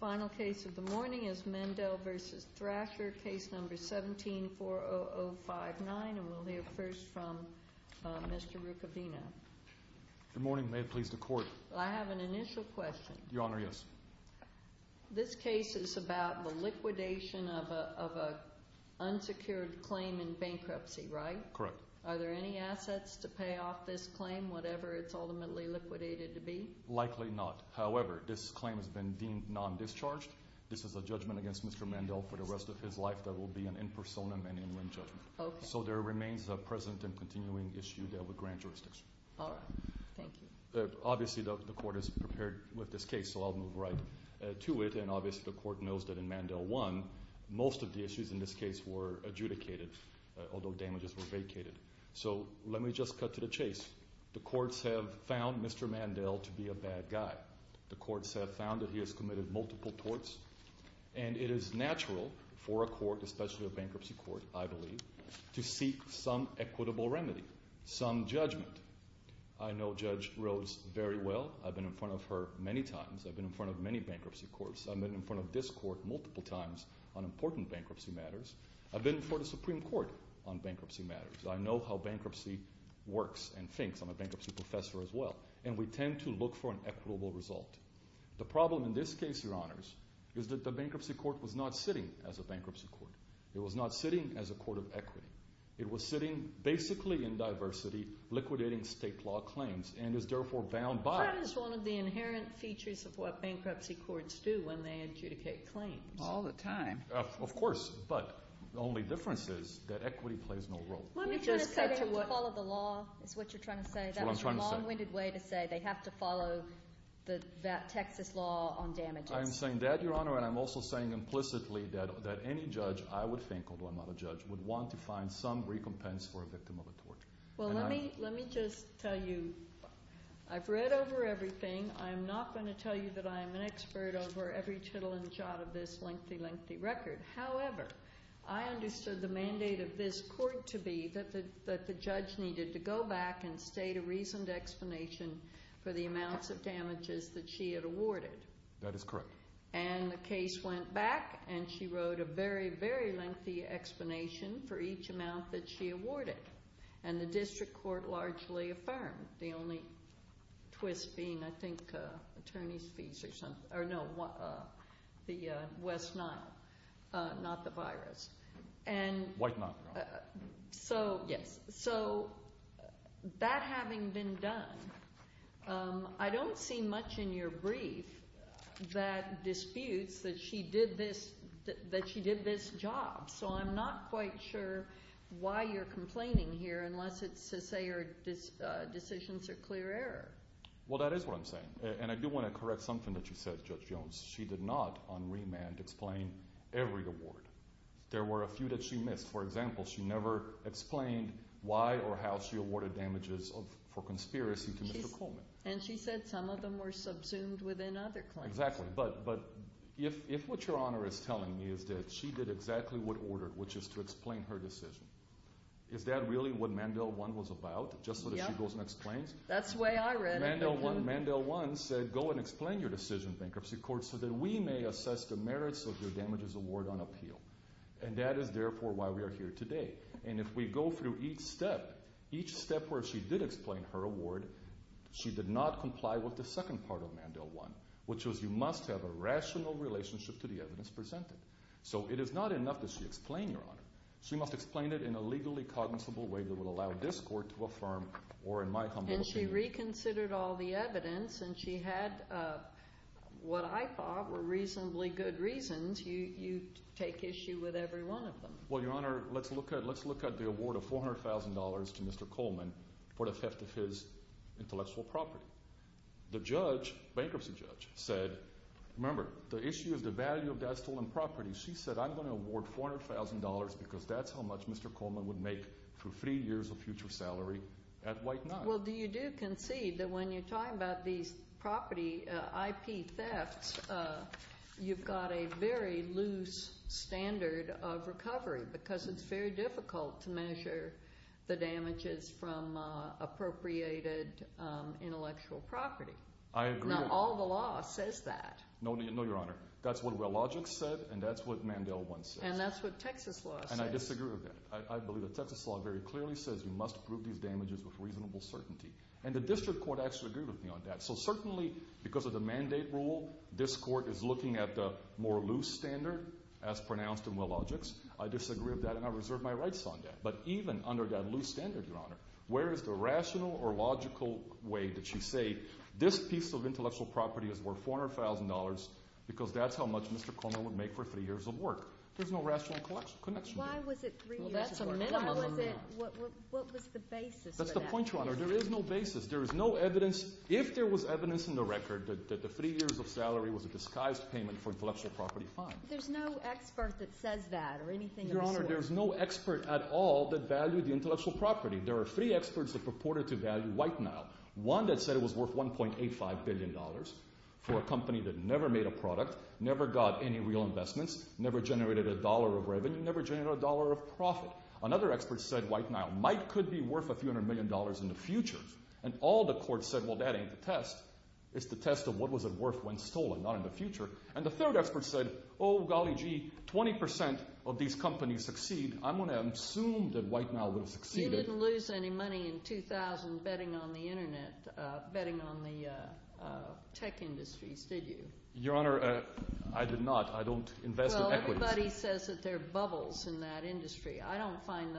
Final case of the morning is Mandel v. Thrasher Case No. 17-40059 and we'll hear first from Mr. Rukavina. Good morning. May it please the Court. I have an initial question. Your Honor, yes. This case is about the liquidation of an unsecured claim in bankruptcy, right? Correct. Are there any assets to pay off this claim, whatever it's ultimately liquidated to be? Likely not. However, this claim has been deemed non-discharged. This is a judgment against Mr. Mandel for the rest of his life that will be an in personam and in name judgment. Okay. So there remains a present and continuing issue there with grand jurisdiction. All right. Thank you. Obviously, the Court is prepared with this case, so I'll move right to it and obviously the Court knows that in Mandel 1, most of the issues in this case were adjudicated, although damages were vacated. So let me just cut to the chase. The courts have found Mr. Mandel to be a bad guy. The courts have found that he has committed multiple torts and it is natural for a court, especially a bankruptcy court, I believe, to seek some equitable remedy, some judgment. I know Judge Rose very well. I've been in front of her many times. I've been in front of many bankruptcy courts. I've been in front of this court multiple times on important bankruptcy matters. I've been in front of the Supreme Court on bankruptcy matters. I know how bankruptcy works and thinks. I'm a bankruptcy professor as well. And we tend to look for an equitable result. The problem in this case, Your Honors, is that the bankruptcy court was not sitting as a bankruptcy court. It was not sitting as a court of equity. It was sitting basically in diversity, liquidating state law claims, and is therefore bound by – That is one of the inherent features of what bankruptcy courts do when they adjudicate claims. All the time. Of course. But the only difference is that equity plays no role. Let me just cut to what – You just said you follow the law is what you're trying to say. That's what I'm trying to say. That's a long-winded way to say they have to follow that Texas law on damages. I'm saying that, Your Honor, and I'm also saying implicitly that any judge, I would think, although I'm not a judge, would want to find some recompense for a victim of a torture. Well, let me just tell you, I've read over everything. I'm not going to tell you that I'm an expert over every tittle and jot of this lengthy, lengthy record. However, I understood the mandate of this court to be that the judge needed to go back and state a reasoned explanation for the amounts of damages that she had awarded. That is correct. And the case went back, and she wrote a very, very lengthy explanation for each amount that she awarded. And the district court largely affirmed, the only twist being, I think, attorney's fees or something – or no, the West Nile, not the virus. White Nile, Your Honor. Yes. So, that having been done, I don't see much in your brief that disputes that she did this job. So, I'm not quite sure why you're complaining here unless it's to say your decisions are clear error. Well, that is what I'm saying. And I do want to correct something that you said, Judge Jones. She did not, on remand, explain every award. There were a few that she missed. For example, she never explained why or how she awarded damages for conspiracy to Mr. Coleman. And she said some of them were subsumed within other claims. Exactly. But if what Your Honor is telling me is that she did exactly what ordered, which is to explain her decision, is that really what Mandel 1 was about, just so that she goes and explains? Yep. That's the way I read it. Mandel 1 said, go and explain your decision, bankruptcy court, so that we may assess the merits of your damages award on appeal. And that is, therefore, why we are here today. And if we go through each step, each step where she did explain her award, she did not comply with the second part of Mandel 1, which was you must have a rational relationship to the evidence presented. So, it is not enough that she explain, Your Honor. She must explain it in a legally cognizable way that would allow this court to affirm or, in my humble opinion- And she reconsidered all the evidence and she had what I thought were reasonably good reasons. You take issue with every one of them. Well, Your Honor, let's look at the award of $400,000 to Mr. Coleman for the theft of his intellectual property. The judge, bankruptcy judge, said, remember, the issue is the value of that stolen property. She said, I'm going to award $400,000 because that's how much Mr. Coleman would make for three years of future salary at White Knife. Well, do you do concede that when you're talking about these property IP thefts, you've got a very loose standard of recovery because it's very difficult to measure the damages from appropriated intellectual property? I agree- Not all the law says that. No, Your Honor. That's what Wellogic said and that's what Mandel 1 says. And that's what Texas law says. And I disagree with that. I believe that Texas law very clearly says you must prove these damages with reasonable certainty. And the district court actually agreed with me on that. So certainly, because of the mandate rule, this court is looking at the more loose standard as pronounced in Wellogic's. I disagree with that and I reserve my rights on that. But even under that loose standard, Your Honor, where is the rational or logical way that she say, this piece of intellectual property is worth $400,000 because that's how much Mr. Coleman would make for three years of work. There's no rational connection there. Well, that's a minimum amount. What was the basis for that? That's the point, Your Honor. There is no basis. There is no evidence. If there was evidence in the record that the three years of salary was a disguised payment for intellectual property, fine. There's no expert that says that or anything. Your Honor, there's no expert at all that valued the intellectual property. There are three experts that purported to value White Nile. One that said it was worth $1.85 billion for a company that never made a product, never got any real investments, never generated a dollar of revenue, never generated a dollar of profit. Another expert said White Nile might could be worth a few hundred million dollars in the future. And all the courts said, well, that ain't the test. It's the test of what was it worth when stolen, not in the future. And the third expert said, oh, golly gee, 20% of these companies succeed. I'm going to assume that White Nile would have succeeded. You didn't lose any money in 2000 betting on the internet, betting on the tech industries, did you? Your Honor, I did not. I don't invest in equities. Well, everybody says that there are bubbles in that industry. I find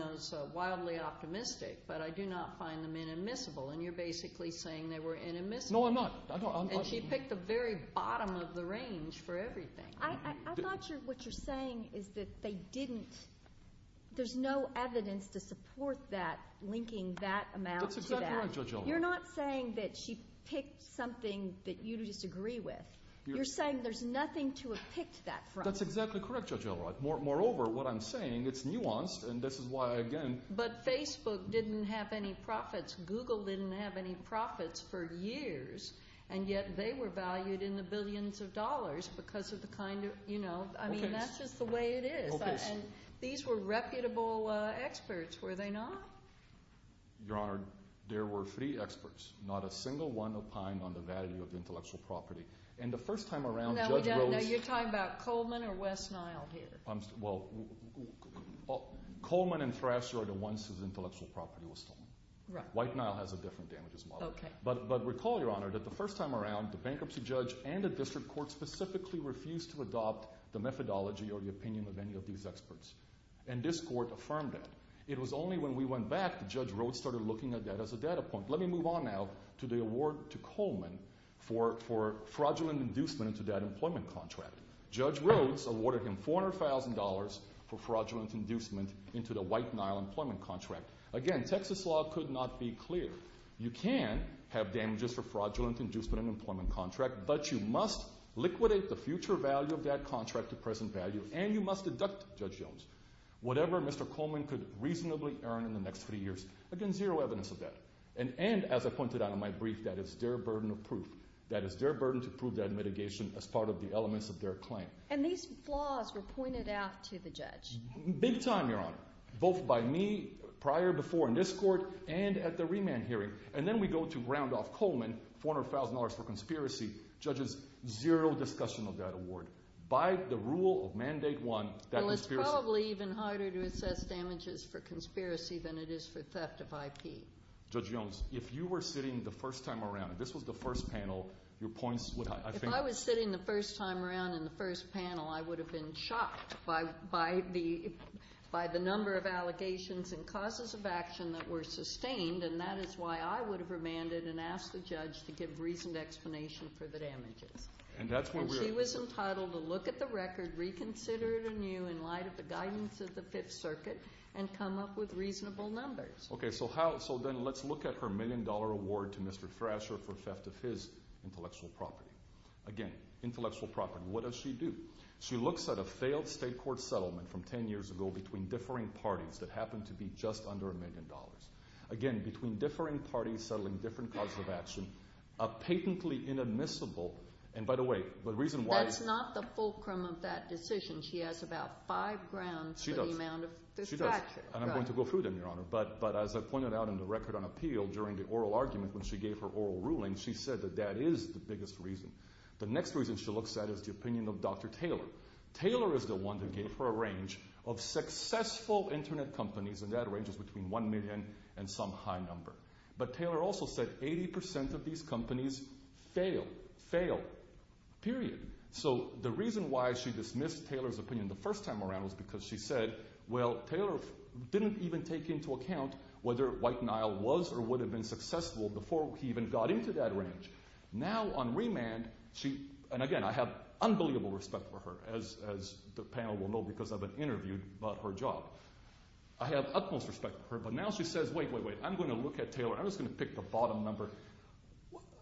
those wildly optimistic, but I do not find them inadmissible. And you're basically saying they were inadmissible. No, I'm not. And she picked the very bottom of the range for everything. I thought what you're saying is that there's no evidence to support linking that amount to that. That's exactly right, Judge Elrod. You're not saying that she picked something that you disagree with. You're saying there's nothing to have picked that from. That's exactly correct, Judge Elrod. Moreover, what I'm saying, it's nuanced, and this is why, again— But Facebook didn't have any profits. Google didn't have any profits for years. And yet they were valued in the billions of dollars because of the kind of— Okay. I mean, that's just the way it is. Okay. And these were reputable experts, were they not? Your Honor, there were three experts, not a single one opined on the value of intellectual property. And the first time around, Judge Rhodes— You're talking about Coleman or West Nile here? Well, Coleman and Thrasher are the ones whose intellectual property was stolen. Right. White Nile has a different damages model. Okay. But recall, Your Honor, that the first time around, the bankruptcy judge and the district court specifically refused to adopt the methodology or the opinion of any of these experts. And this court affirmed that. It was only when we went back that Judge Rhodes started looking at that as a data point. Let me move on now to the award to Coleman for fraudulent inducement into that employment contract. Judge Rhodes awarded him $400,000 for fraudulent inducement into the White Nile employment contract. Again, Texas law could not be clear. You can have damages for fraudulent inducement in an employment contract, but you must liquidate the future value of that contract to present value, and you must deduct, Judge Jones, whatever Mr. Coleman could reasonably earn in the next three years. Again, zero evidence of that. And as I pointed out in my brief, that is their burden of proof. That is their burden to prove that mitigation as part of the elements of their claim. And these flaws were pointed out to the judge. Big time, Your Honor. Both by me prior before in this court and at the remand hearing. And then we go to round off Coleman, $400,000 for conspiracy. Judges, zero discussion of that award. By the rule of mandate one, that conspiracy... Well, it's probably even harder to assess damages for conspiracy than it is for theft of IP. Judge Jones, if you were sitting the first time around, and this was the first panel, your points would... If I was sitting the first time around in the first panel, I would have been shocked by the number of allegations and causes of action that were sustained, and that is why I would have remanded and asked the judge to give reasoned explanation for the damages. And that's what we're... And she was entitled to look at the record, reconsider it anew in light of the guidance of the Fifth Circuit, and come up with reasonable numbers. Okay, so how... So then let's look at her million dollar award to Mr. Thrasher for theft of his intellectual property. Again, intellectual property. What does she do? She looks at a failed state court settlement from 10 years ago between differing parties that happened to be just under a million dollars. Again, between differing parties settling different causes of action, a patently inadmissible... And by the way, the reason why... That's not the fulcrum of that decision. She has about five grounds for the amount of... She does. She does. And I'm going to go through them, Your Honor, but as I pointed out in the record on appeal during the oral argument when she gave her oral ruling, she said that that is the biggest reason. The next reason she looks at is the opinion of Dr. Taylor. Taylor is the one that gave her a range of successful internet companies, and that range is between one million and some high number. But Taylor also said 80% of these companies fail, fail, period. So the reason why she dismissed Taylor's opinion the first time around was because she said, well, Taylor didn't even take into account whether White Nile was or would have been successful before he even got into that range. Now on remand, she... And again, I have unbelievable respect for her, as the panel will know because I've been interviewed about her job. I have utmost respect for her, but now she says, wait, wait, wait. I'm going to look at Taylor. I'm just going to pick the bottom number.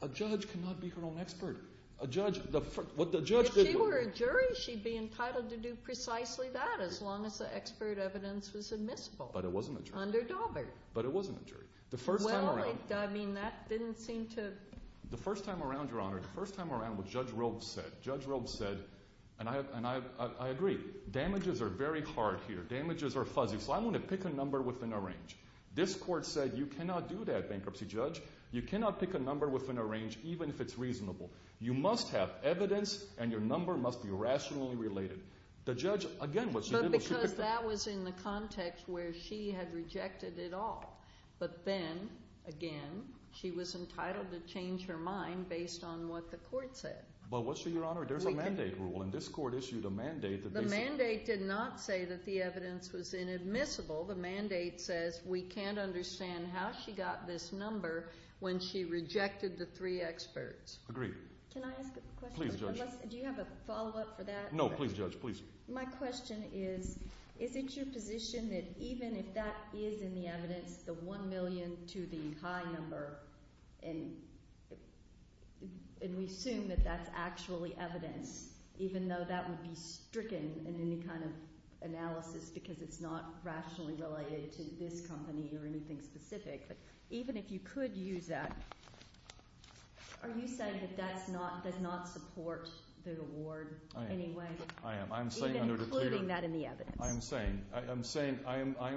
A judge cannot be her own expert. A judge... What the judge... If you were a jury, she'd be entitled to do precisely that, as long as the expert evidence was admissible. But it wasn't a jury. Under Daubert. But it wasn't a jury. The first time around... Well, I mean, that didn't seem to... The first time around, Your Honor, the first time around, what Judge Robes said, Judge Robes said, and I agree, damages are very hard here. Damages are fuzzy. So I'm going to pick a number within a range. This court said, you cannot do that, bankruptcy judge. You cannot pick a number within a range, even if it's reasonable. You must have evidence, and your number must be rationally related. The judge, again, what she did... But because that was in the context where she had rejected it all. But then, again, she was entitled to change her mind based on what the court said. But what, Your Honor, there's a mandate rule, and this court issued a mandate that... The mandate did not say that the evidence was inadmissible. The mandate says, we can't understand how she got this number when she rejected the three experts. Agreed. Can I ask a question? Please, Judge. Do you have a follow-up for that? No, please, Judge, please. My question is, is it your position that even if that is in the evidence, the one million to the high number, and we assume that that's actually evidence, even though that would be stricken in any kind of analysis because it's not rationally related to this company or anything specific. But even if you could use that, are you saying that that does not support the award anyway? I am. I am. Even including that in the evidence. I am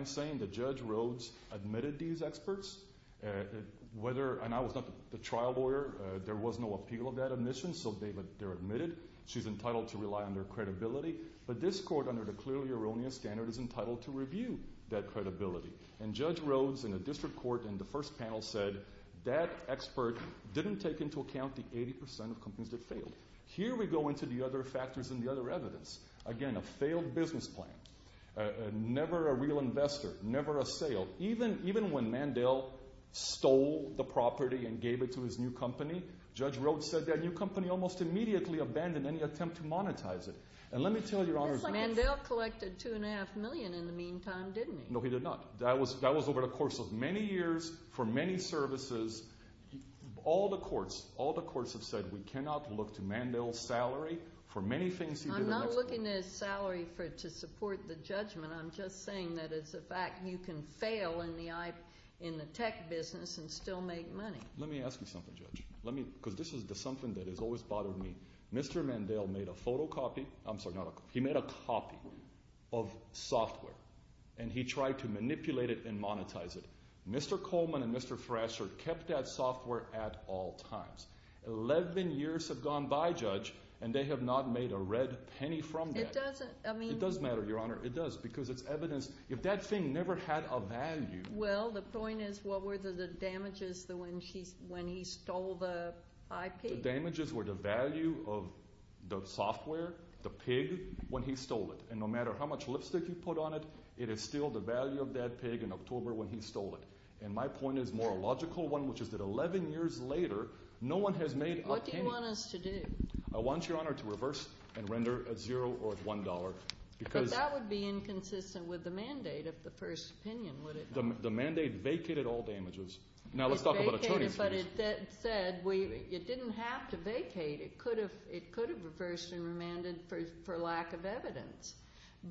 saying that Judge Rhodes admitted these experts, and I was not the trial lawyer. There was no appeal of that admission, so they're admitted. She's entitled to rely on their credibility. But this court, under the clearly erroneous standard, is entitled to review that credibility. And Judge Rhodes in a district court in the first panel said that expert didn't take into account the 80% of companies that failed. Here we go into the other factors and the other evidence. Again, a failed business plan. Never a real investor. Never a sale. Even when Mandel stole the property and gave it to his new company, Judge Rhodes said that new company almost immediately abandoned any attempt to monetize it. And let me tell you, Your Honor. Mandel collected two and a half million in the meantime, didn't he? No, he did not. That was over the course of many years for many services. All the courts, all the courts have said we cannot look to Mandel's salary for many things he did. I'm not looking at his salary to support the judgment. I'm just saying that it's a fact. You can fail in the tech business and still make money. Let me ask you something, Judge. Because this is something that has always bothered me. Mr. Mandel made a photocopy. I'm sorry. He made a copy of software. And he tried to manipulate it and monetize it. Mr. Coleman and Mr. Thrasher kept that software at all times. Eleven years have gone by, Judge, and they have not made a red penny from that. It doesn't, I mean. It does matter, Your Honor. It does, because it's evidence. If that thing never had a value. Well, the point is, what were the damages when he stole the IP? The damages were the value of the software, the pig, when he stole it. And no matter how much lipstick you put on it, it is still the value of that pig in October when he stole it. And my point is more a logical one, which is that eleven years later, no one has made a penny. What do you want us to do? I want you, Your Honor, to reverse and render a zero or a one dollar. But that would be inconsistent with the mandate of the first opinion, would it not? The mandate vacated all damages. Now, let's talk about attorney's fees. But it said, it didn't have to vacate. It could have reversed and remanded for lack of evidence.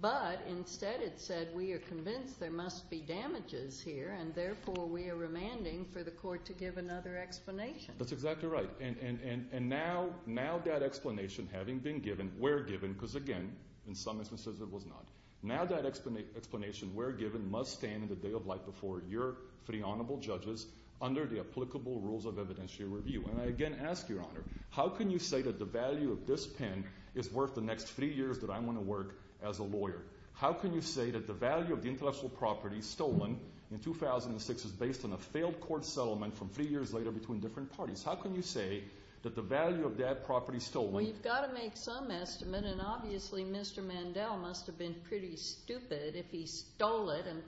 But instead it said, we are convinced there must be damages here. And therefore we are remanding for the court to give another explanation. That's exactly right. And now that explanation having been given, where given, because again, in some instances it was not. Now that explanation where given must stand in the day of light before your three honorable judges under the applicable rules of evidentiary review. And I again ask, Your Honor, how can you say that the value of this pen is worth the next three years that I'm going to work as a lawyer? How can you say that the value of the intellectual property stolen in 2006 is based on a failed court settlement from three years later between different parties? How can you say that the value of that property stolen… Well, you've got to make some estimate, and obviously Mr. Mandel must have been pretty stupid if he stole it and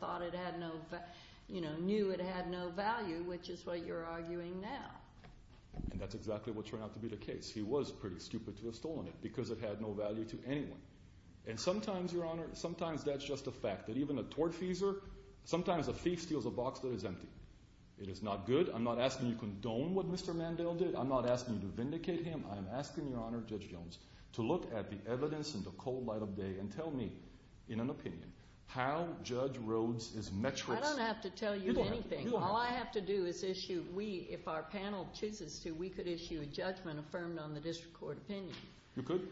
knew it had no value, which is what you're arguing now. And that's exactly what turned out to be the case. He was pretty stupid to have stolen it because it had no value to anyone. And sometimes, Your Honor, sometimes that's just a fact. That even a tortfeasor, sometimes a thief steals a box that is empty. It is not good. I'm not asking you to condone what Mr. Mandel did. I'm not asking you to vindicate him. I'm asking, Your Honor, Judge Jones, to look at the evidence in the cold light of day and tell me, in an opinion, how Judge Rhodes' metrics… I don't have to tell you anything. You don't have to. All I have to do is issue, if our panel chooses to, we could issue a judgment affirmed on the district court opinion. You could.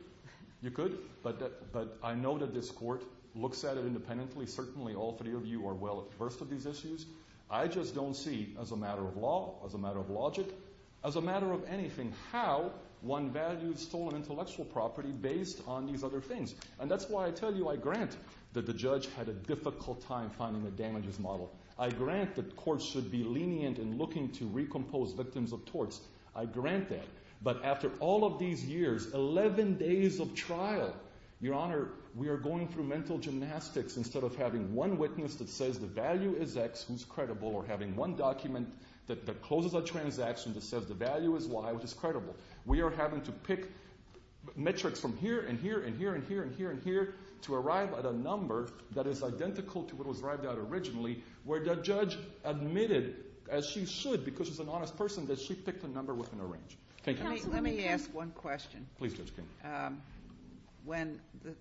You could. But I know that this court looks at it independently. Certainly all three of you are well versed with these issues. I just don't see, as a matter of law, as a matter of logic, as a matter of anything, how one values stolen intellectual property based on these other things. And that's why I tell you I grant that the judge had a difficult time finding a damages model. I grant that courts should be lenient in looking to recompose victims of torts. I grant that. But after all of these years, 11 days of trial, Your Honor, we are going through mental gymnastics instead of having one witness that says the value is X, who's credible, or having one document that closes a transaction that says the value is Y, which is credible. We are having to pick metrics from here and here and here and here and here and here to arrive at a number that is identical to what was arrived at originally where the judge admitted, as she should because she's an honest person, that she picked a number within her range. Let me ask one question. Please, Judge King.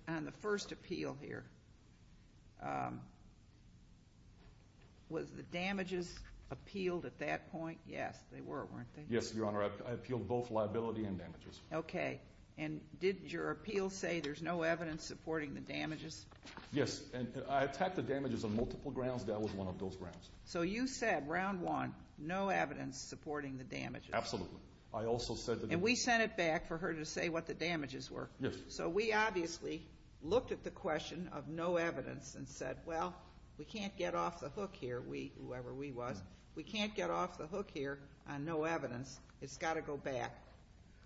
On the first appeal here, was the damages appealed at that point? Yes, they were, weren't they? Yes, Your Honor. I appealed both liability and damages. Okay. And did your appeal say there's no evidence supporting the damages? Yes. I attacked the damages on multiple grounds. That was one of those grounds. So you said, round one, no evidence supporting the damages. Absolutely. And we sent it back for her to say what the damages were. Yes. So we obviously looked at the question of no evidence and said, well, we can't get off the hook here, we, whoever we was, we can't get off the hook here on no evidence. It's got to go back.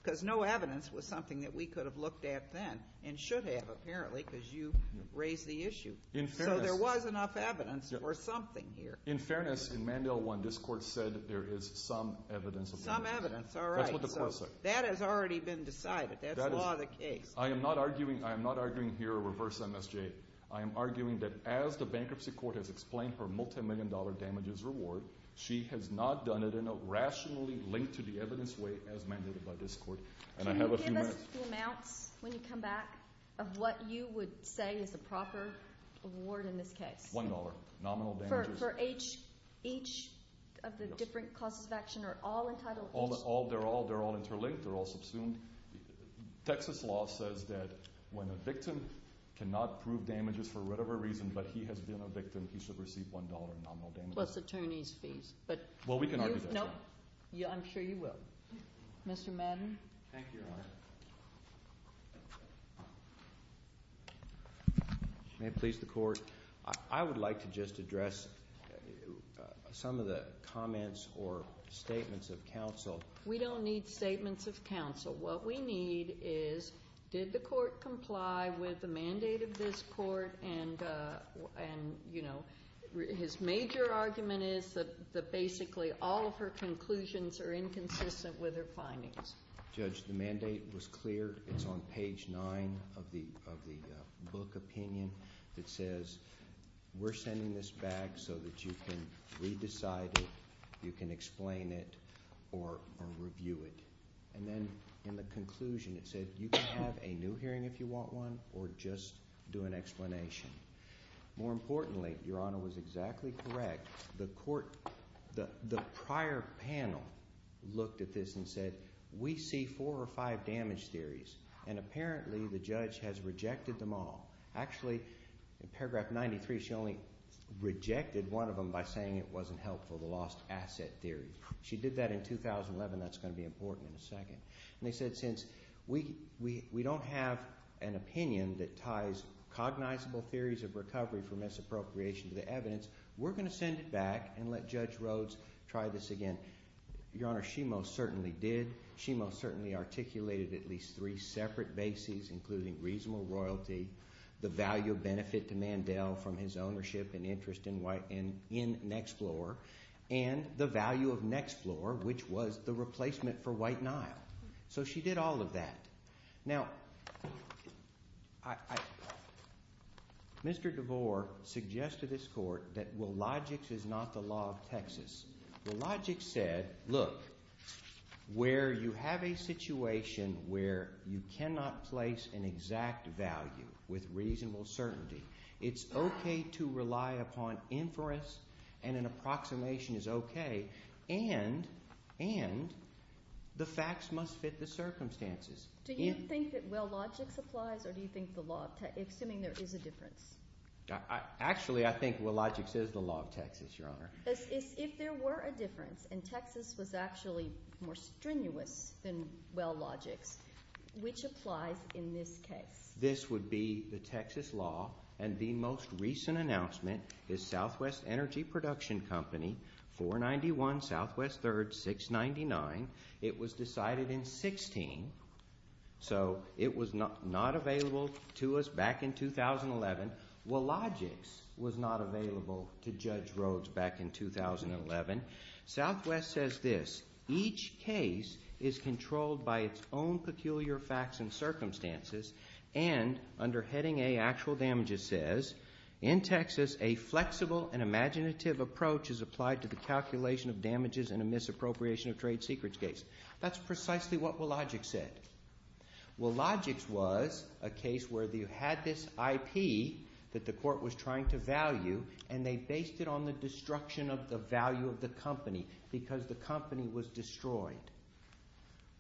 Because no evidence was something that we could have looked at then and should have, apparently, because you raised the issue. So there was enough evidence for something here. In fairness, in Mandel 1, this Court said there is some evidence. Some evidence. All right. That's what the Court said. That has already been decided. That's law of the case. I am not arguing here reverse MSJ. I am arguing that as the bankruptcy court has explained her multimillion-dollar damages reward, she has not done it in a rationally linked-to-the-evidence way as mandated by this Court. And I have a few minutes. Can you give us the amounts, when you come back, of what you would say is the proper reward in this case? $1. Nominal damages. For each of the different causes of action are all entitled? They're all interlinked. They're all subsumed. Texas law says that when a victim cannot prove damages for whatever reason, but he has been a victim, he should receive $1 in nominal damages. Plus attorney's fees. Well, we can argue that. I'm sure you will. Mr. Madden? Thank you, Your Honor. May it please the Court? I would like to just address some of the comments or statements of counsel. We don't need statements of counsel. What we need is, did the Court comply with the mandate of this Court? And, you know, his major argument is that basically all of her conclusions are inconsistent with her findings. Judge, the mandate was clear. It's on page 9 of the book opinion that says, we're sending this back so that you can re-decide it, you can explain it, or review it. And then in the conclusion, it said, you can have a new hearing if you want one or just do an explanation. More importantly, Your Honor was exactly correct, the Court, the prior panel looked at this and said, we see four or five damage theories, and apparently the judge has rejected them all. Actually, in paragraph 93, she only rejected one of them by saying it wasn't helpful, the lost asset theory. in a second. And they said, since we don't have an opinion that ties cognizable theories of recovery for misappropriation to the evidence, we're going to send it back and let Judge Rhodes try this again. Your Honor, she most certainly did. She most certainly articulated at least three separate bases, including reasonable royalty, the value of benefit to Mandel from his ownership and interest in Nexplorer, and the value of Nexplorer, which was the replacement for White Nile. So she did all of that. Now, Mr. DeVore suggested to this Court that Willogic's is not the law of Texas. Willogic said, look, where you have a situation where you cannot place an exact value with reasonable certainty, it's okay to rely upon inference and an approximation is okay, and the facts must fit the circumstances. Do you think that Willogic's applies or do you think there is a difference? Actually, I think Willogic's is the law of Texas, Your Honor. If there were a difference and Texas was actually more strenuous than Willogic's, which applies in this case? This would be the Texas law and the most recent announcement is Southwest Energy Production Company, 491 Southwest 3rd, 699. It was decided in 16, so it was not available to us back in 2011. Willogic's was not available to Judge Rhodes back in 2011. Southwest says this, each case is controlled by its own peculiar facts and circumstances, and under Heading A, Actual Damages says, in Texas, a flexible and imaginative approach is applied to the calculation of damages in a misappropriation of trade secrets case. That's precisely what Willogic said. Willogic's was a case where you had this IP that the court was trying to value and they based it on the destruction of the value of the company because the company was destroyed.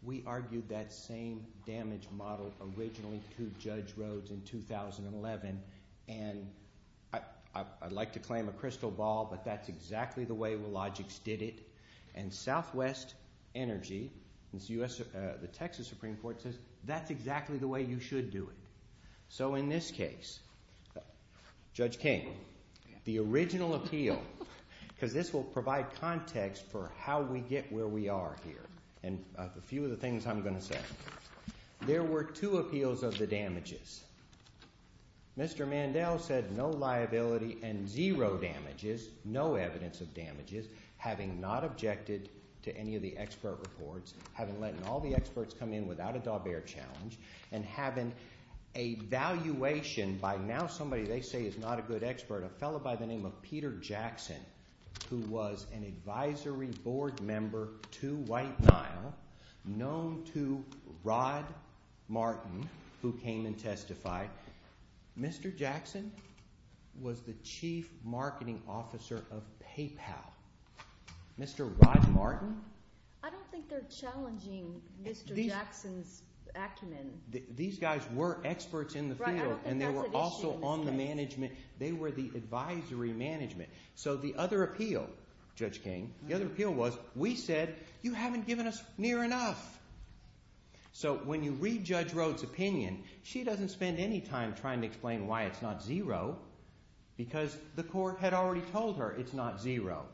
We argued that same damage model originally to Judge Rhodes in 2011 and I'd like to claim a crystal ball but that's exactly the way Willogic's did it and Southwest Energy, the Texas Supreme Court says, that's exactly the way you should do it. So in this case, Judge King, the original appeal because this will provide context for how we get where we are here and a few of the things I'm going to say. There were two appeals of the damages. Mr. Mandel said no liability and zero damages, no evidence of damages having not objected to any of the expert reports, having let all the experts come in without a Daubert challenge and having a valuation by now somebody they say is not a good expert, a fellow by the name of Peter Jackson who was an advisory board member to White Nile known to Rod Martin who came and testified. Mr. Jackson was the chief marketing officer of PayPal. Mr. Rod Martin I don't think they're challenging Mr. Jackson's acumen. These guys were experts in the field and they were also on the management they were the advisory management so the other appeal, Judge King, the other appeal was we said you haven't given us near enough so when you read Judge Rhoad's opinion she doesn't spend any time trying to explain why it's not zero because the court had already told her it's not zero.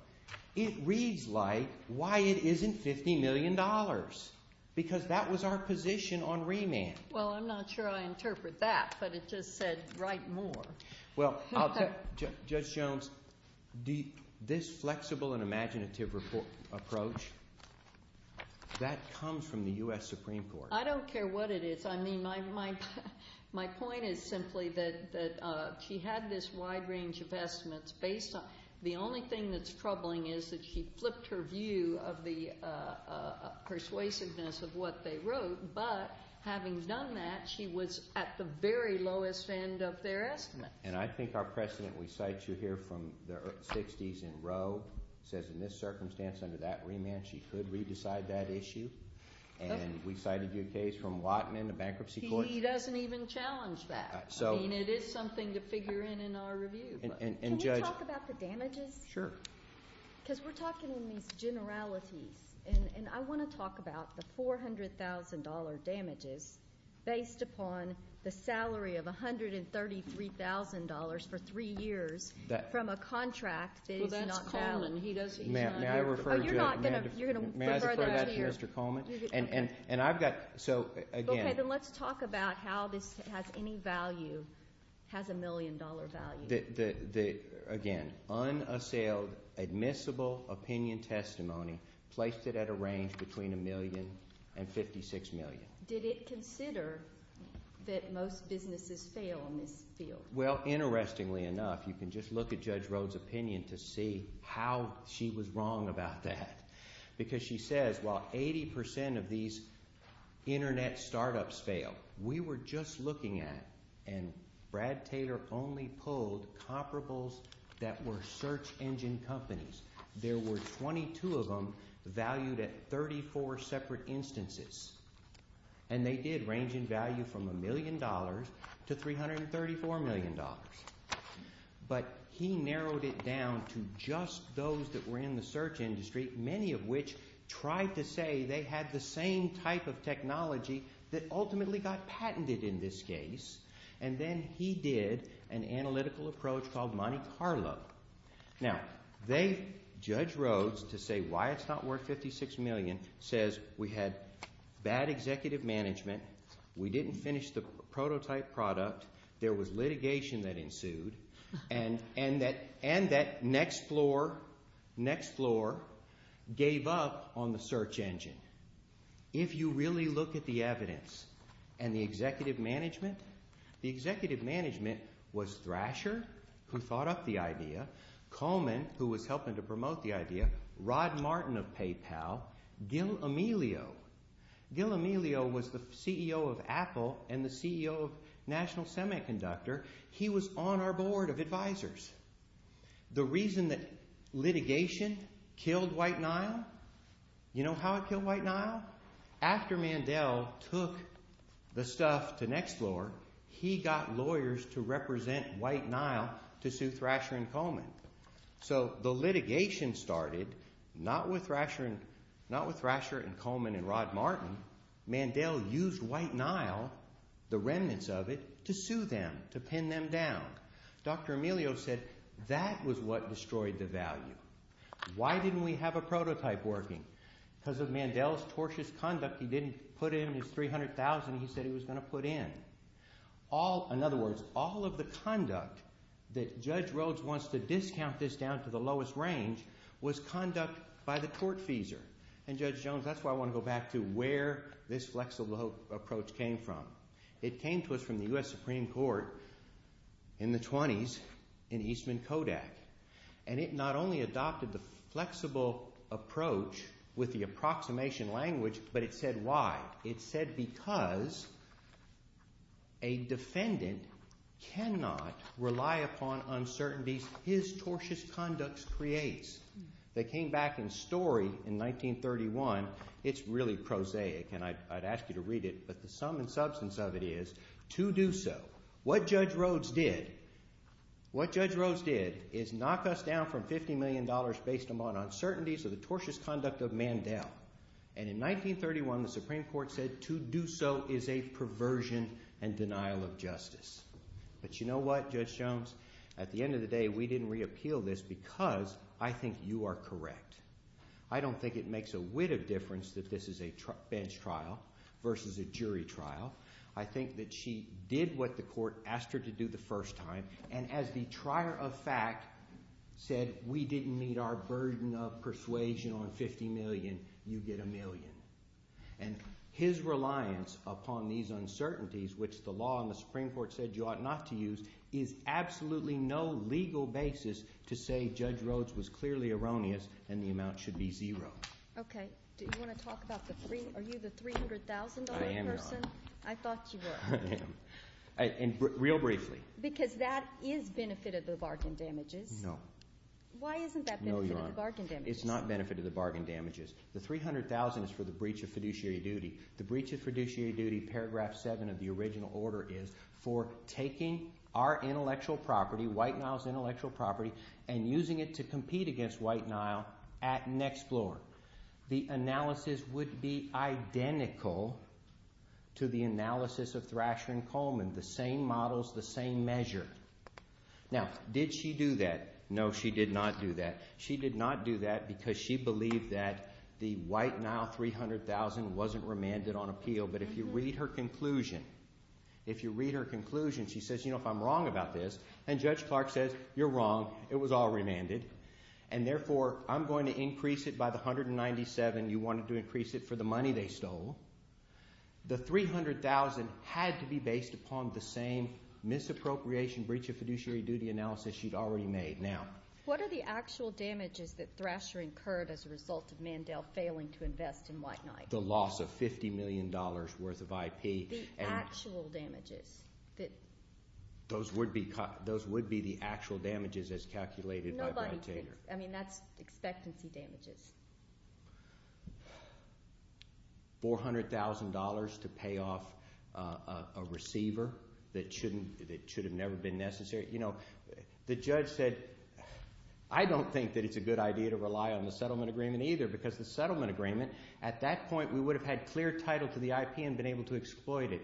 It reads like why it isn't $50 million because that was our position on remand. Well I'm not sure I interpret that but it just said write more. Well, Judge Jones this flexible and imaginative approach that comes from the US Supreme Court. I don't care what it is my point is simply that she had this wide range of estimates based on the only thing that's troubling is that she flipped her view of the persuasiveness of what they wrote but having done that she was at the very lowest end of their estimates. And I think our precedent, we cite you here from the 60s in Rhoad says in this circumstance under that remand she could re-decide that issue and we cited you a case from Watman a bankruptcy court. He doesn't even challenge that. I mean it is something to figure in in our review. Can we talk about the damages? Sure. Because we're talking in these generalities and I want to talk about the $400,000 damages based upon the salary of $133,000 for three years from a contract that is not valid. May I refer that to Mr. Coleman? And I've got Ok, then let's talk about how this has any value has a million dollar value. Again, unassailed admissible opinion testimony placed it at a range between a million and 56 million. Did it consider that most businesses fail in this field? Well, interestingly enough, you can just look at Judge Rhoad's opinion to see how she was wrong about that because she says while 80% of these internet startups fail, we were just looking at and Brad Taylor only pulled comparables that were search engine companies. There were 22 of them valued at 34 separate instances and they did range in value from a million dollars to $334 million dollars but he narrowed it down to just those that were in the search industry, many of which tried to say they had the same type of technology that ultimately got patented in this case and then he did an analytical approach called Monte Carlo. Now they, Judge Rhoad's, to say why it's not worth 56 million says we had bad executive management, we didn't finish the prototype product there was litigation that ensued and that next floor gave up on the search engine. If you really look at the evidence and the executive management the executive management was Thrasher who thought up the idea Coleman who was helping to promote the idea, Rod Martin of PayPal, Gil Amelio Gil Amelio was the CEO of Apple and the CEO of National Semiconductor he was on our board of the reason that litigation killed White Nile you know how it killed White Nile? After Mandel took the stuff to next floor he got lawyers to represent White Nile to sue Thrasher and Coleman. So the litigation started not with Thrasher and Coleman and Rod Martin Mandel used White Nile the remnants of it to sue them to pin them down. Dr. Amelio said that was what destroyed the value why didn't we have a prototype working? Because of Mandel's tortuous conduct he didn't put in his $300,000 he said he was going to put in all, in other words all of the conduct that Judge Rhodes wants to discount this down to the lowest range was conduct by the tortfeasor and Judge Jones that's why I want to go back to where this flexible approach came from. It came to us from the U.S. Supreme Court in the 20's in Eastman Kodak and it not only adopted the flexible approach with the approximation language but it said why it said because a defendant cannot rely upon uncertainties his tortious conduct creates that came back in story in 1931 it's really prosaic and I'd ask you to read it but the sum and substance of it is to do so, what Judge Rhodes did what Judge Rhodes did is knock us down from $50 million based on uncertainties of the tortious conduct of Mandel and in 1931 the Supreme Court said to do so is a perversion and denial of justice but you know what Judge Jones at the end of the day we didn't re-appeal this because I think you are correct. I don't think it makes a whit of difference that this is a bench trial versus a jury trial. I think that she did what the court asked her to do the first time and as the trier of fact said we didn't meet our burden of persuasion on $50 million you get a million and his reliance upon these uncertainties which the law and the Supreme Court said you ought not to use is absolutely no legal basis to say Judge Rhodes was clearly erroneous and the amount should be zero. Okay. Do you want to talk about the $300,000 person? I thought you were. Real briefly Because that is benefit of the bargain damages. No. Why isn't that benefit of the bargain damages? It's not benefit of the bargain damages. The $300,000 is for the breach of fiduciary duty. The breach of fiduciary duty paragraph 7 of the original order is for taking our intellectual property White Nile's intellectual property and using it to compete against White Nile at Next Floor. The analysis would be identical to the analysis of Thrasher and Coleman the same models, the same measure. Now, did she do that? No, she did not do that. She did not do that because she believed that the White Nile $300,000 wasn't remanded on appeal but if you read her conclusion if you read her conclusion she says you know if I'm wrong about this and Judge Clark says you're wrong it was all remanded and therefore I'm going to increase it by the $197,000 you wanted to increase it for the money they stole the $300,000 had to be based upon the same misappropriation breach of fiduciary duty analysis she'd already made. What are the actual damages that Thrasher incurred as a result of Mandel failing to invest in White Nile? The loss of $50 million worth of IP The actual damages? Those would be those would be the actual damages as calculated by Brad Taylor. I mean that's expectancy damages. $400,000 to pay off a receiver that should have never been necessary The judge said I don't think that it's a good idea to rely on the settlement agreement either because the settlement agreement at that point we would have had clear title to the IP and been able to exploit it.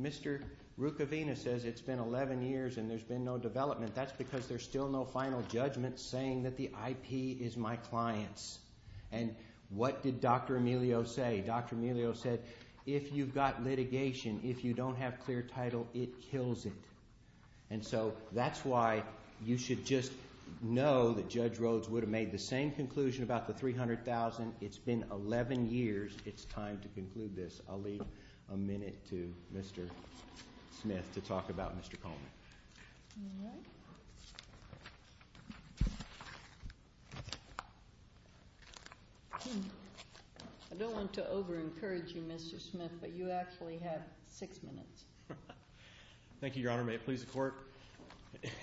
Mr. Rukavina says it's been 11 years and there's been no development. That's because there's still no final judgment saying that the IP is my client's. What did Dr. Emilio say? Dr. Emilio said if you've got litigation, if you don't have clear title, it kills it. And so that's why you should just know that Judge Rhodes would have made the same conclusion about the $300,000. It's been 11 years. It's time to conclude this. I'll leave a minute to Mr. Smith to talk about Mr. Coleman. I don't want to over encourage you Mr. Smith but you actually have 6 minutes. Thank you Your Honor. May it please the court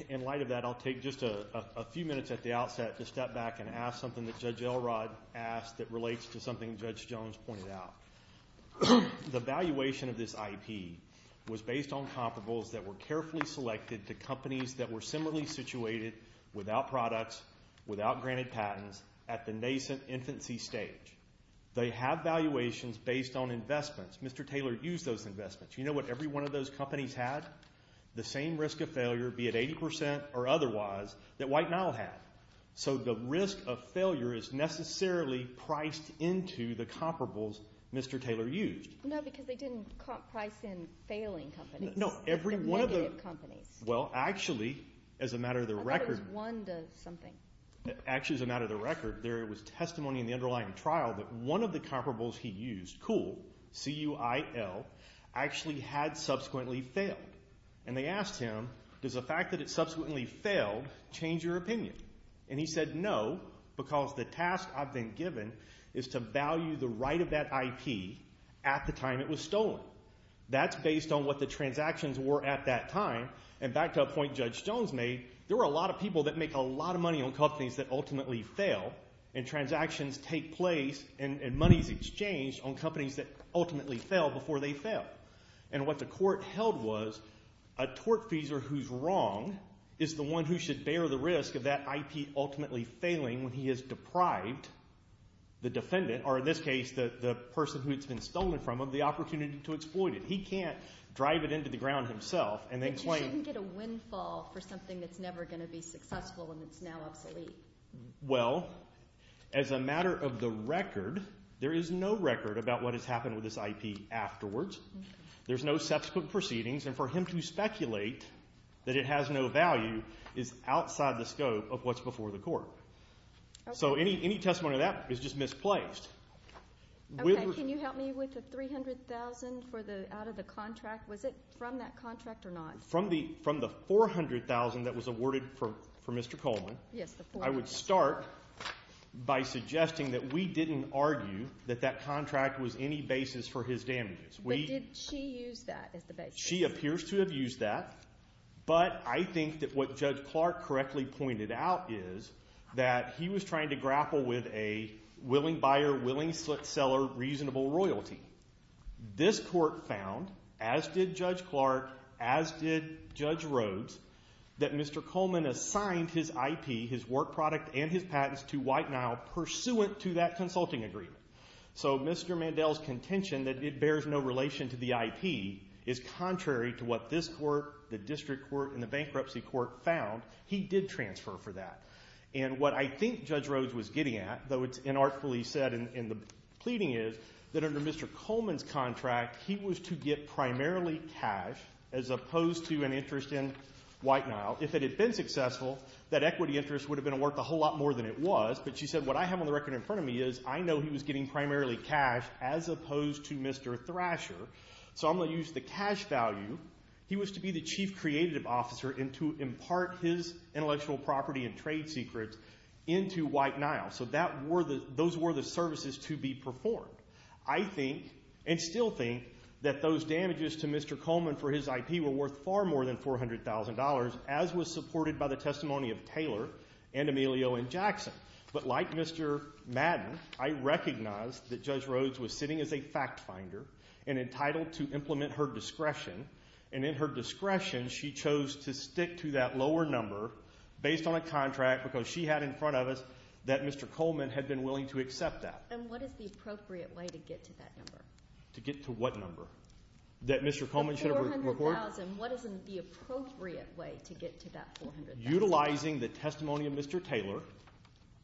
in light of that I'll take just a few minutes at the outset to step back and ask something that Judge Elrod asked that relates to something Judge Jones pointed out. The valuation of this IP was based on comparables that were carefully selected to companies that were similarly situated without products, without granted patents at the nascent infancy stage. They have valuations based on investments. Mr. Taylor used those investments. You know what every one of those companies had? The same risk of failure be it 80% or otherwise that White Nile had. So the risk of failure is necessarily priced into the comparables Mr. Taylor used. No because they didn't price in failing companies. Negative companies. Well actually as a matter of the record Actually as a matter of the record there was testimony in the underlying trial that one of the comparables he used COOL, C-U-I-L actually had subsequently failed. And they asked him does the fact that it subsequently failed change your opinion? And he said no because the task I've been given is to value the right of that IP at the time it was stolen. That's based on what the transactions were at that time. And back to a point Judge Jones made, there were a lot of people that make a lot of money on companies that ultimately fail and transactions take place and money is exchanged on companies that ultimately fail before they fail. And what the court held was a tortfeasor who's wrong is the one who should bear the risk of that IP ultimately failing when he has deprived the defendant, or in this case the person who it's been stolen from of the opportunity to exploit it. He can't drive it into the ground himself and then claim. But you shouldn't get a windfall for something that's never going to be successful when it's now obsolete. Well as a matter of the record there is no record about what has happened with this IP afterwards. There's no subsequent proceedings and for him to speculate that it has no value is outside the scope of what's before the court. So any testimony to that is just misplaced. Can you help me with the $300,000 out of the contract? Was it from that contract or not? From the $400,000 that was awarded for Mr. Coleman I would start by suggesting that we didn't argue that that contract was any basis for his damages. But did she use that as the basis? She appears to have used that, but I think that what Judge Clark correctly pointed out is that he was trying to grapple with a willing buyer, willing seller reasonable royalty. This court found, as did Judge Clark, as did Judge Rhodes, that Mr. Coleman assigned his IP, his work product, and his patents to White Nile pursuant to that consulting agreement. So Mr. Mandel's contention that it bears no relation to the IP is contrary to what this court, the district court, and the bankruptcy court found. He did transfer for that. And what I think Judge Rhodes was getting at, though it's inartfully said in the pleading is that under Mr. Coleman's contract he was to get primarily cash as opposed to an interest in White Nile. If it had been successful, that equity interest would have been worth a whole lot more than it was. But she said what I have on the record in front of me is I know he was getting primarily cash as opposed to Mr. Thrasher. So I'm going to use the cash value. He was to be the chief creative officer and to impart his intellectual property and trade secrets into White Nile. So those were the services to be performed. I think, and still think, that those damages to Mr. Coleman for his IP were worth far more than $400,000, as was supported by the testimony of Taylor and Emilio and Jackson. But like Mr. Madden, I recognize that Judge Rhodes was sitting as a fact finder and entitled to implement her discretion. And in her discretion, she chose to stick to that lower number based on a contract because she had in front of us that Mr. Coleman had been willing to accept that. And what is the appropriate way to get to that number? To get to what number? That Mr. Coleman should have reported? The $400,000. What is the appropriate way to get to that $400,000? Utilizing the testimony of Mr. Taylor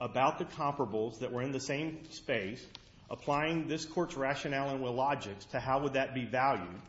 about the comparables that were in the same space, applying this court's rationale and logics to how would that be valued,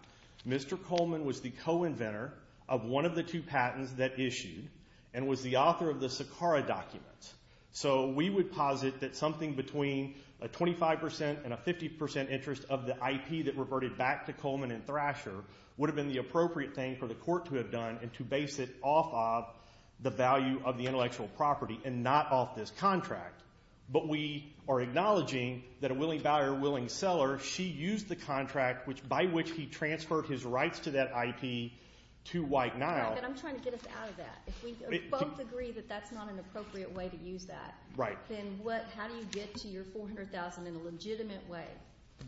Mr. Coleman was the co-inventor of one of the two patents that issued and was the author of the Sakara documents. So we would posit that something between a 25% and a 50% interest of the IP that reverted back to Coleman and Thrasher would have been the appropriate thing for the court to have done and to base it off of the value of the intellectual property and not off this contract. But we are acknowledging that a willing buyer, a willing seller, she used the contract by which he transferred his rights to that IP to White Nile. I'm trying to get us out of that. If we both agree that that's not an appropriate way to use that, then how do you get to your $400,000 in a legitimate way?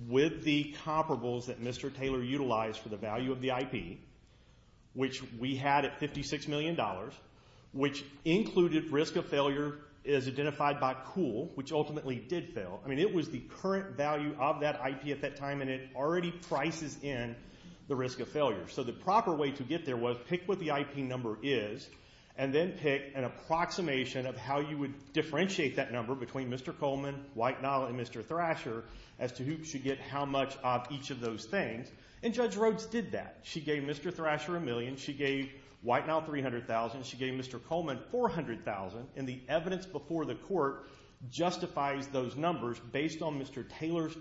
With the comparables that Mr. Taylor utilized for the value of the IP, which we had at $56 million, which included risk of cool, which ultimately did fail. It was the current value of that IP at that time and it already prices in the risk of failure. The proper way to get there was pick what the IP number is and then pick an approximation of how you would differentiate that number between Mr. Coleman, White Nile, and Mr. Thrasher as to who should get how much of each of those things. Judge Rhodes did that. She gave Mr. Thrasher a million. She gave White Nile 300,000. She gave Mr. Coleman 400,000. The evidence before the court justifies those numbers based on Mr. Taylor's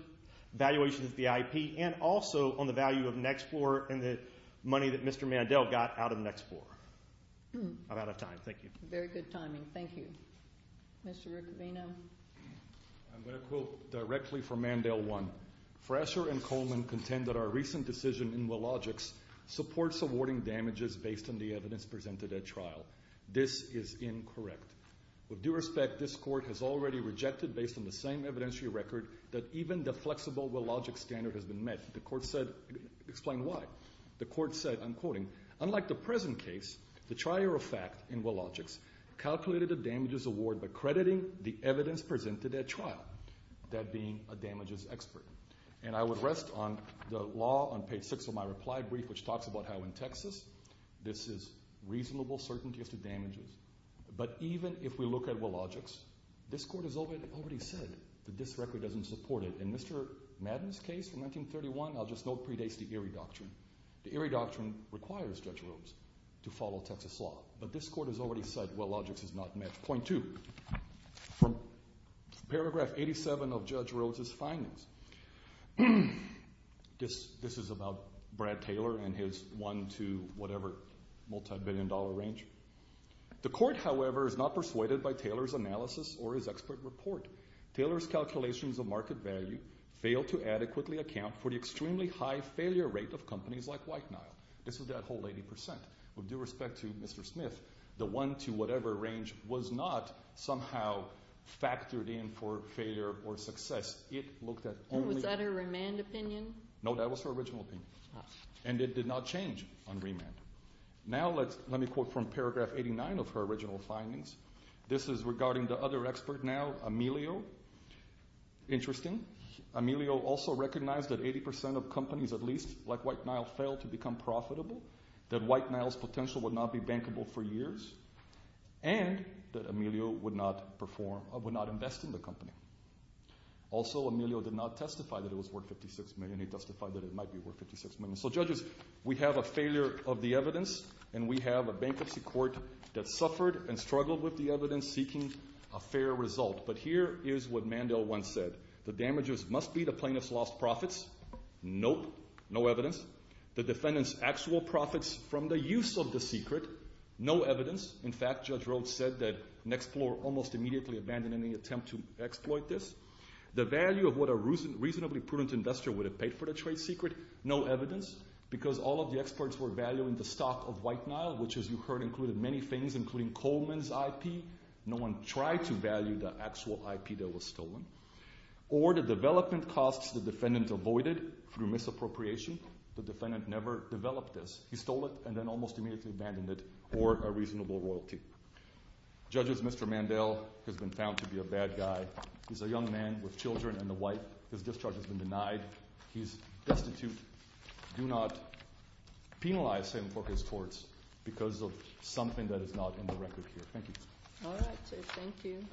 valuation of the IP and also on the value of Nexplor and the money that Mr. Mandel got out of Nexplor. I'm out of time. Thank you. Very good timing. Thank you. Mr. Riccovino? I'm going to quote directly from Mandel 1. Thrasher and Coleman contend that our recent decision in Willogix supports awarding damages based on the evidence presented at trial. This is incorrect. With due respect, this court has already rejected based on the same evidentiary record that even the flexible Willogix standard has been met. The court said explain why. The court said, I'm quoting, unlike the present case, the trier of fact in Willogix calculated a damages award by crediting the evidence presented at trial. That being a damages expert. And I would rest on the law on page 6 of my reply brief which talks about how in Texas this is reasonable certainty as to damages. But even if we look at Willogix, this court has already said that this record doesn't support it. In Mr. Madden's case from 1931, I'll just note it predates the Erie Doctrine. The Erie Doctrine requires Judge Rhodes to follow Texas law. But this court has already said Willogix is not met. Point two. From paragraph 87 of Judge Rhodes' findings, this is about Brad Taylor and his one to whatever multi-billion dollar range. The court, however, is not persuaded by Taylor's analysis or his expert report. Taylor's calculations of market value fail to adequately account for the extremely high failure rate of companies like White Nile. This is that whole 80%. With due respect to Mr. Smith, the one to whatever range was not somehow factored in for failure or success. It looked at only... Was that a remand opinion? No, that was her original opinion. And it did not change on remand. Now let me quote from paragraph 89 of her original findings. This is regarding the other expert now, Emilio. Interesting. Emilio also recognized that 80% of companies at least like White Nile failed to become profitable, that White Nile's potential would not be bankable for years, and that Emilio would not invest in the company. Also he justified that it might be worth $56 million. So judges, we have a failure of the evidence, and we have a bankruptcy court that suffered and struggled with the evidence seeking a fair result. But here is what Mandel once said. The damages must be the plaintiff's lost profits. Nope. No evidence. The defendant's actual profits from the use of the secret. No evidence. In fact, Judge Rhodes said that an explorer almost immediately abandoned any attempt to exploit this. The value of what a reasonably prudent investor would have paid for the trade secret. No evidence. Because all of the experts were valuing the stock of White Nile, which as you heard included many things, including Coleman's IP. No one tried to value the actual IP that was stolen. Or the development costs the defendant avoided through misappropriation. The defendant never developed this. He stole it and then almost immediately abandoned it for a reasonable royalty. Judges, Mr. Mandel has been found to be a bad guy. He's a young man with children and a wife. His discharge has been denied. He's destitute. Do not penalize him for his torts because of something that is not in the record here. Thank you.